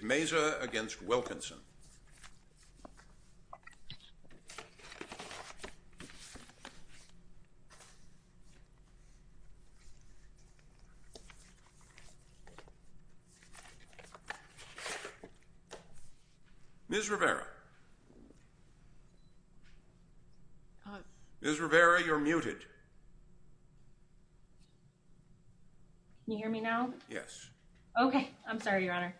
Meza v. Wilkinson Ms. Rivera Ms. Rivera, you're muted. Can you hear me now? Yes. Okay. I'm sorry, Your Honor.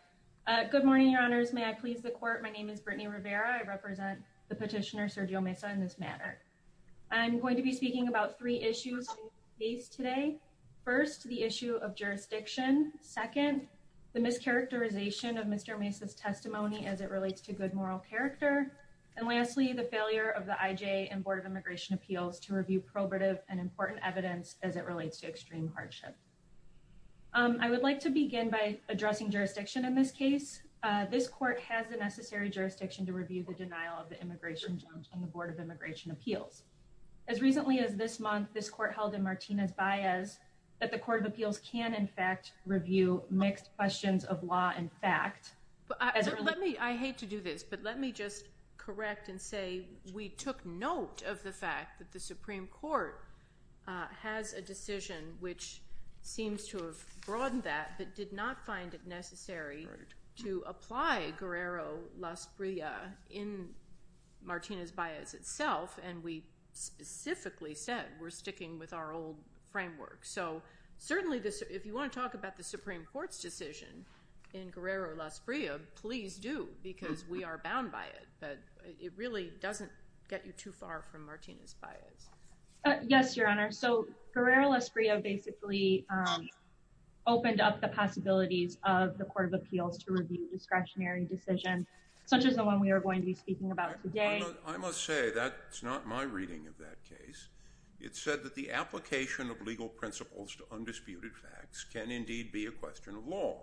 Good morning, Your Honors. May I please the court? My name is Brittany Rivera. I represent the petitioner Sergio Meza in this matter. I'm going to be speaking about three issues we face today. First, the issue of jurisdiction. Second, the mischaracterization of Mr. Meza's testimony as it relates to good moral character. And lastly, the failure of the IJ and Board of Immigration Appeals to review probative and important evidence as it relates to extreme hardship. I would like to begin by addressing jurisdiction in this case. This court has the necessary jurisdiction to review the denial of the immigration judge on the Board of Immigration Appeals. As recently as this month, this court held in Martinez-Baez that the Court of Appeals can, in fact, review mixed questions of law and fact. I hate to do this, but let me just correct and say we took note of the fact that the Supreme Court has a decision which seems to have broadened that but did not find it necessary to apply Guerrero-Las Brillas in Martinez-Baez itself. And we specifically said we're sticking with our old framework. So certainly if you want to talk about the Supreme Court's decision in Guerrero-Las Brillas, please do because we are bound by it. But it really doesn't get you too far from Martinez-Baez. Yes, Your Honor. So Guerrero-Las Brillas basically opened up the possibilities of the Court of Appeals to review discretionary decisions such as the one we are going to be speaking about today. I must say that's not my reading of that case. It said that the application of legal principles to undisputed facts can indeed be a question of law.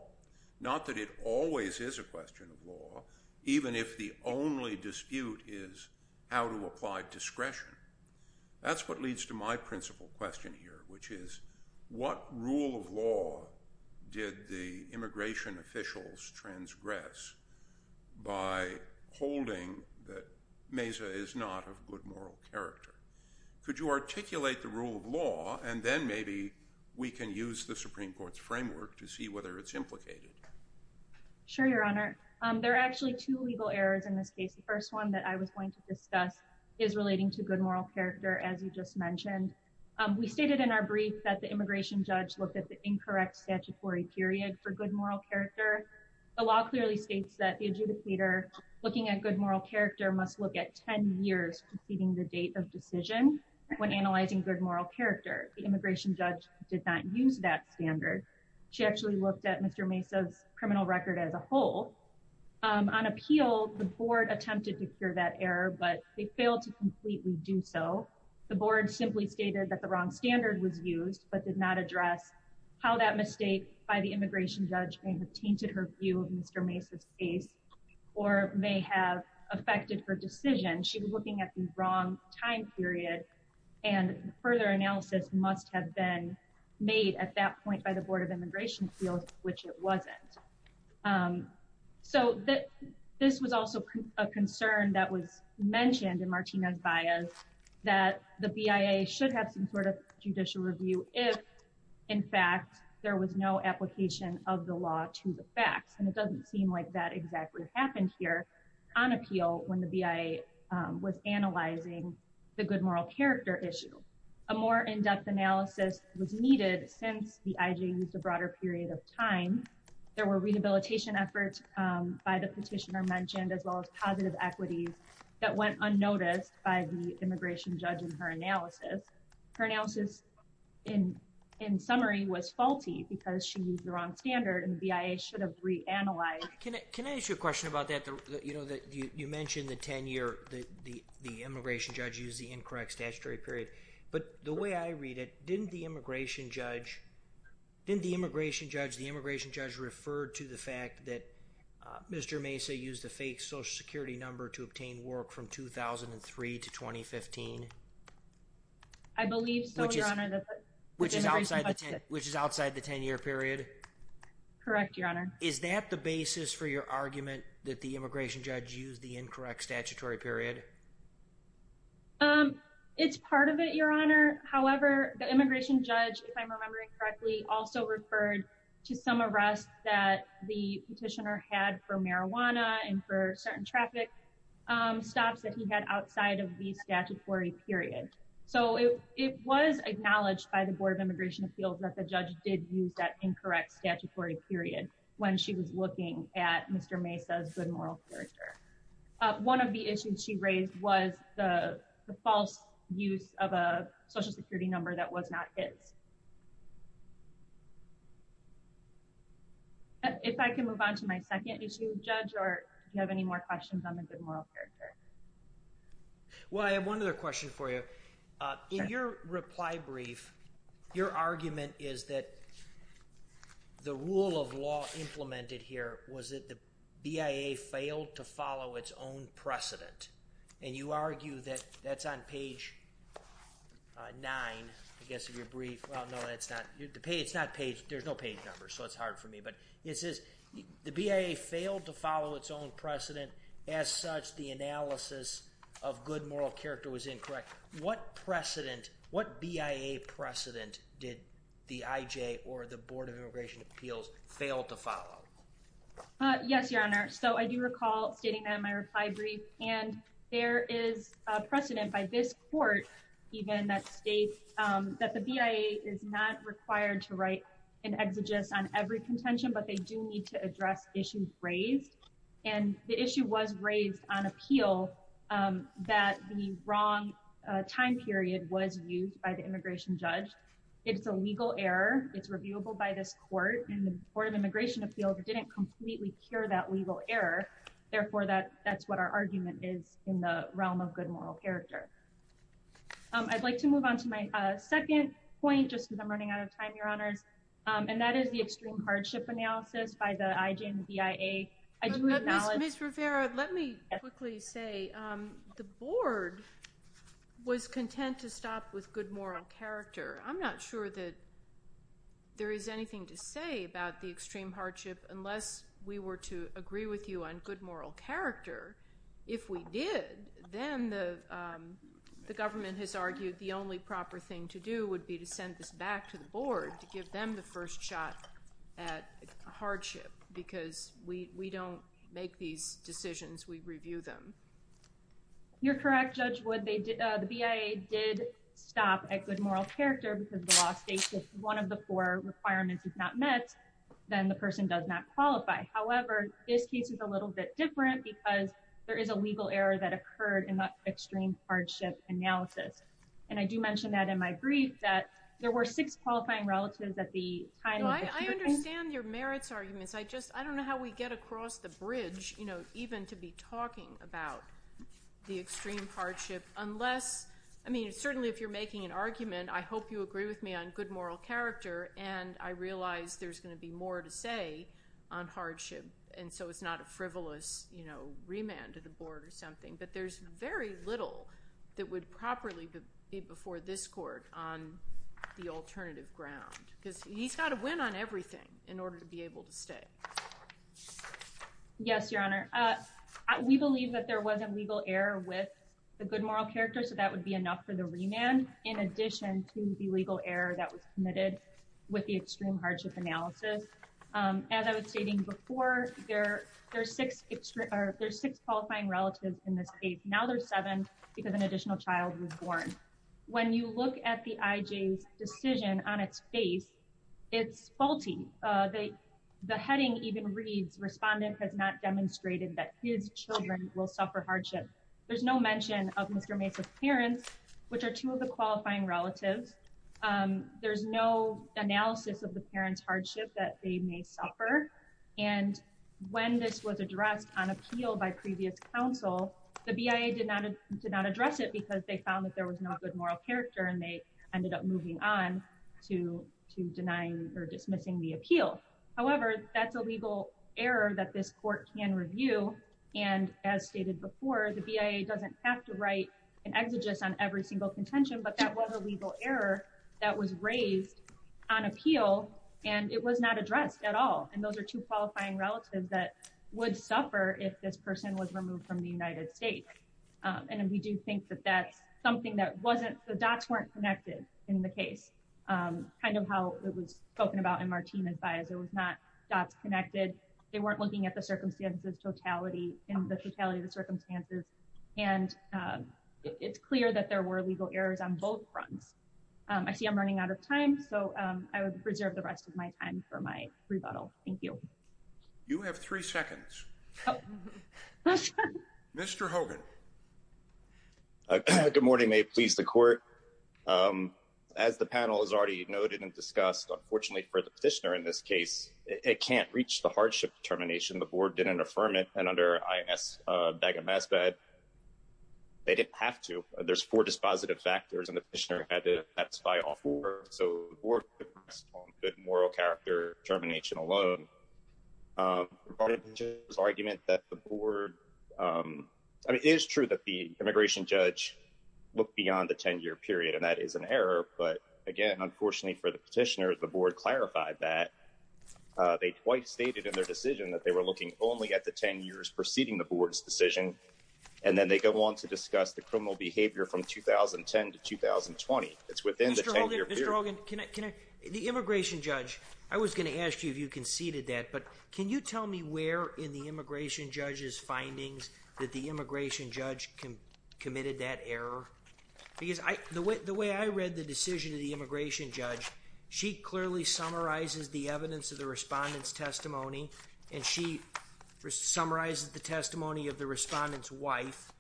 Not that it always is a question of law, even if the only dispute is how to apply discretion. That's what leads to my principal question here, which is what rule of law did the immigration officials transgress by holding that Mesa is not of good moral character? Could you articulate the rule of law and then maybe we can use the Supreme Court's framework to see whether it's implicated? Sure, Your Honor. There are actually two legal errors in this case. The first one that I was going to discuss is relating to good moral character, as you just mentioned. We stated in our brief that the immigration judge looked at the incorrect statutory period for good moral character. The law clearly states that the adjudicator looking at good moral character must look at 10 years preceding the date of decision when analyzing good moral character. The immigration judge did not use that standard. She actually looked at Mr. Mesa's criminal record as a whole. On appeal, the board attempted to cure that error, but they failed to completely do so. The board simply stated that the wrong standard was used but did not address how that mistake by the immigration judge may have tainted her view of Mr. Mesa's case or may have affected her decision. She was looking at the wrong time period and further analysis must have been made at that point by the Board of Immigration Appeals, which it wasn't. This was also a concern that was mentioned in Martina's bias that the BIA should have some sort of judicial review if, in fact, there was no application of the law to the facts. It doesn't seem like that exactly happened here on appeal when the BIA was analyzing the good moral character issue. A more in-depth analysis was needed since the IG used a broader period of time. There were rehabilitation efforts by the petitioner mentioned as well as positive equities that went unnoticed by the immigration judge in her analysis. Her analysis, in summary, was faulty because she used the wrong standard and the BIA should have reanalyzed. Can I ask you a question about that? You mentioned the 10-year, the immigration judge used the incorrect statutory period, but the way I read it, didn't the immigration judge refer to the fact that Mr. Mesa used a fake Social Security number to obtain work from 2003 to 2015? I believe so, Your Honor. Which is outside the 10-year period? Correct, Your Honor. Is that the basis for your argument that the immigration judge used the incorrect statutory period? It's part of it, Your Honor. However, the immigration judge, if I'm remembering correctly, also referred to some arrests that the petitioner had for marijuana and for certain traffic stops that he had outside of the statutory period. So, it was acknowledged by the Board of Immigration Appeals that the judge did use that incorrect statutory period when she was looking at Mr. Mesa's good moral character. One of the issues she raised was the false use of a Social Security number that was not his. If I can move on to my second issue, Judge, or do you have any more questions on the good moral character? Well, I have one other question for you. In your reply brief, your argument is that the rule of law implemented here was that the BIA failed to follow its own precedent. And you argue that that's on page 9, I guess, of your brief. Well, no, it's not. There's no page number, so it's hard for me. It says the BIA failed to follow its own precedent. As such, the analysis of good moral character was incorrect. What BIA precedent did the IJ or the Board of Immigration Appeals fail to follow? Yes, Your Honor. So I do recall stating that in my reply brief. And there is precedent by this court even that states that the BIA is not required to write an exegesis on every contention, but they do need to address issues raised. And the issue was raised on appeal that the wrong time period was used by the immigration judge. It's a legal error. It's reviewable by this court. And the Board of Immigration Appeals didn't completely cure that legal error. Therefore, that's what our argument is in the realm of good moral character. I'd like to move on to my second point just because I'm running out of time, Your Honors. And that is the extreme hardship analysis by the IJ and the BIA. Ms. Rivera, let me quickly say the Board was content to stop with good moral character. I'm not sure that there is anything to say about the extreme hardship unless we were to agree with you on good moral character. If we did, then the government has argued the only proper thing to do would be to send this back to the Board to give them the first shot at hardship because we don't make these decisions. We review them. You're correct, Judge Wood. The BIA did stop at good moral character because the law states if one of the four requirements is not met, then the person does not qualify. However, this case is a little bit different because there is a legal error that occurred in that extreme hardship analysis. And I do mention that in my brief that there were six qualifying relatives at the time of the curing. I understand your merits arguments. I just don't know how we get across the bridge even to be talking about the extreme hardship unless – I mean, certainly if you're making an argument, I hope you agree with me on good moral character. And I realize there's going to be more to say on hardship, and so it's not a frivolous remand to the Board or something. But there's very little that would properly be before this Court on the alternative ground because he's got to win on everything in order to be able to stay. Yes, Your Honor. We believe that there was a legal error with the good moral character, so that would be enough for the remand, in addition to the legal error that was committed with the extreme hardship analysis. As I was stating before, there's six qualifying relatives in this case. Now there's seven because an additional child was born. When you look at the IJ's decision on its face, it's faulty. The heading even reads, Respondent has not demonstrated that his children will suffer hardship. There's no mention of Mr. Mase's parents, which are two of the qualifying relatives. There's no analysis of the parents' hardship that they may suffer. And when this was addressed on appeal by previous counsel, the BIA did not address it because they found that there was no good moral character and they ended up moving on to denying or dismissing the appeal. However, that's a legal error that this Court can review. And as stated before, the BIA doesn't have to write an exegesis on every single contention, but that was a legal error that was raised on appeal and it was not addressed at all. And those are two qualifying relatives that would suffer if this person was removed from the United States. And we do think that that's something that wasn't the dots weren't connected in the case, kind of how it was spoken about in Martina's bias. It was not dots connected. They weren't looking at the circumstances, totality and the totality of the circumstances. And it's clear that there were legal errors on both fronts. I see I'm running out of time, so I would preserve the rest of my time for my rebuttal. Thank you. You have three seconds. Mr. Hogan. Good morning. May it please the Court. As the panel has already noted and discussed, unfortunately for the petitioner in this case, it can't reach the hardship determination. The board didn't affirm it. And under I.S. They didn't have to. There's four dispositive factors and the petitioner had to satisfy all four. So good moral character termination alone. Argument that the board is true that the immigration judge look beyond the 10 year period. And that is an error. But again, unfortunately for the petitioner, the board clarified that they quite stated in their decision that they were looking only at the 10 years preceding the board. And then they go on to discuss the criminal behavior from 2010 to 2020. It's within the 10 year period. The immigration judge. I was going to ask you if you conceded that. But can you tell me where in the immigration judge's findings that the immigration judge committed that error? Because the way I read the decision of the immigration judge, she clearly summarizes the evidence of the respondents testimony. And she summarizes the testimony of the respondents wife.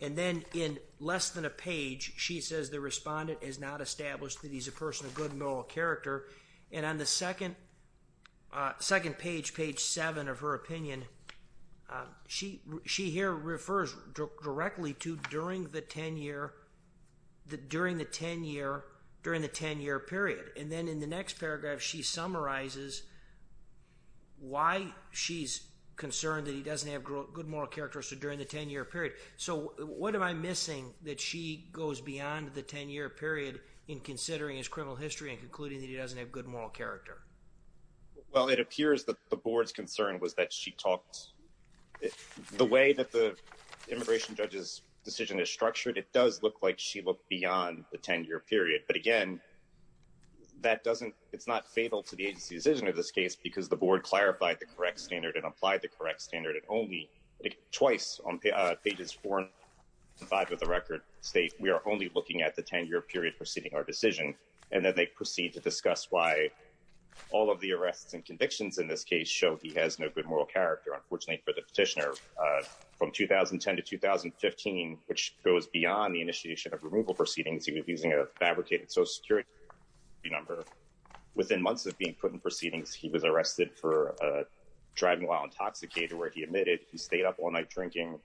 And then in less than a page, she says the respondent is not established that he's a person of good moral character. And on the second second page, page seven of her opinion. She she here refers directly to during the 10 year that during the 10 year during the 10 year period. And then in the next paragraph, she summarizes why she's concerned that he doesn't have good moral character. So during the 10 year period. So what am I missing that she goes beyond the 10 year period in considering his criminal history and concluding that he doesn't have good moral character? Well, it appears that the board's concern was that she talks the way that the immigration judge's decision is structured. It does look like she looked beyond the 10 year period. But again, that doesn't it's not fatal to the agency's decision of this case, because the board clarified the correct standard and applied the correct standard. And only twice on pages four and five of the record state, we are only looking at the 10 year period preceding our decision. And then they proceed to discuss why all of the arrests and convictions in this case show he has no good moral character. Unfortunately for the petitioner from 2010 to 2015, which goes beyond the initiation of removal proceedings, he was using a fabricated social security number within months of being put in proceedings. He was arrested for driving while intoxicated, where he admitted he stayed up all night drinking,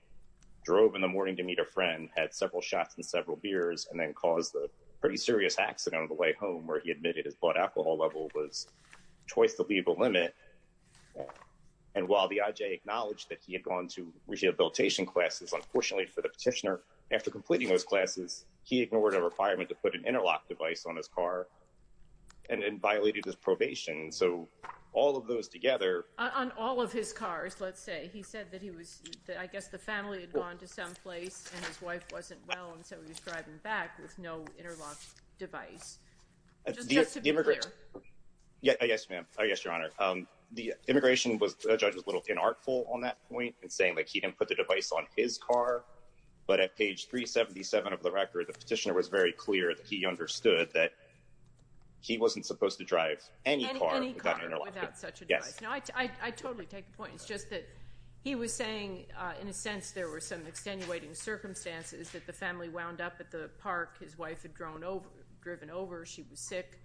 drove in the morning to meet a friend, had several shots and several beers and then caused a pretty serious accident on the way home where he admitted his blood alcohol level was twice the legal limit. And while the IJ acknowledged that he had gone to rehabilitation classes, unfortunately for the petitioner, after completing those classes, he ignored a requirement to put an interlock device on his car and violated his probation. So all of those together on all of his cars, let's say he said that he was that I guess the family had gone to someplace and his wife wasn't well. And so he was driving back with no interlock device. Yes, ma'am. Yes, Your Honor. The immigration judge was a little inartful on that point and saying he didn't put the device on his car. But at page 377 of the record, the petitioner was very clear that he understood that he wasn't supposed to drive any car without an interlock device. I totally take the point. It's just that he was saying, in a sense, there were some extenuating circumstances that the family wound up at the park. His wife had grown over, driven over. She was sick.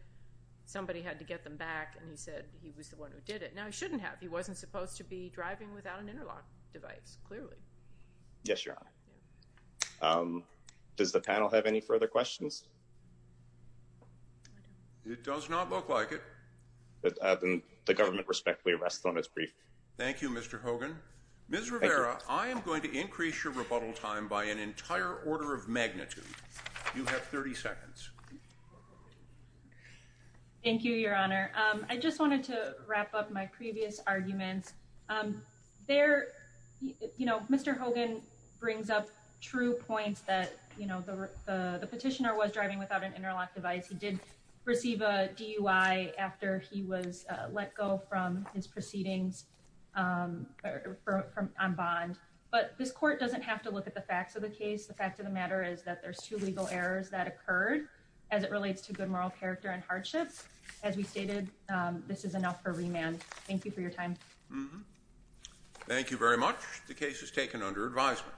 Somebody had to get them back. And he said he was the one who did it. Now, he shouldn't have. He wasn't supposed to be driving without an interlock device. Clearly. Yes, Your Honor. Does the panel have any further questions? It does not look like it. The government respectfully rests on its brief. Thank you, Mr. Hogan. Ms. Rivera, I am going to increase your rebuttal time by an entire order of magnitude. You have 30 seconds. Thank you, Your Honor. I just wanted to wrap up my previous arguments. There, you know, Mr. Hogan brings up true points that, you know, the petitioner was driving without an interlock device. He did receive a DUI after he was let go from his proceedings on bond. But this court doesn't have to look at the facts of the case. The fact of the matter is that there's two legal errors that occurred as it relates to good moral character and hardships. Thank you for your time. Thank you very much. The case is taken under advisement.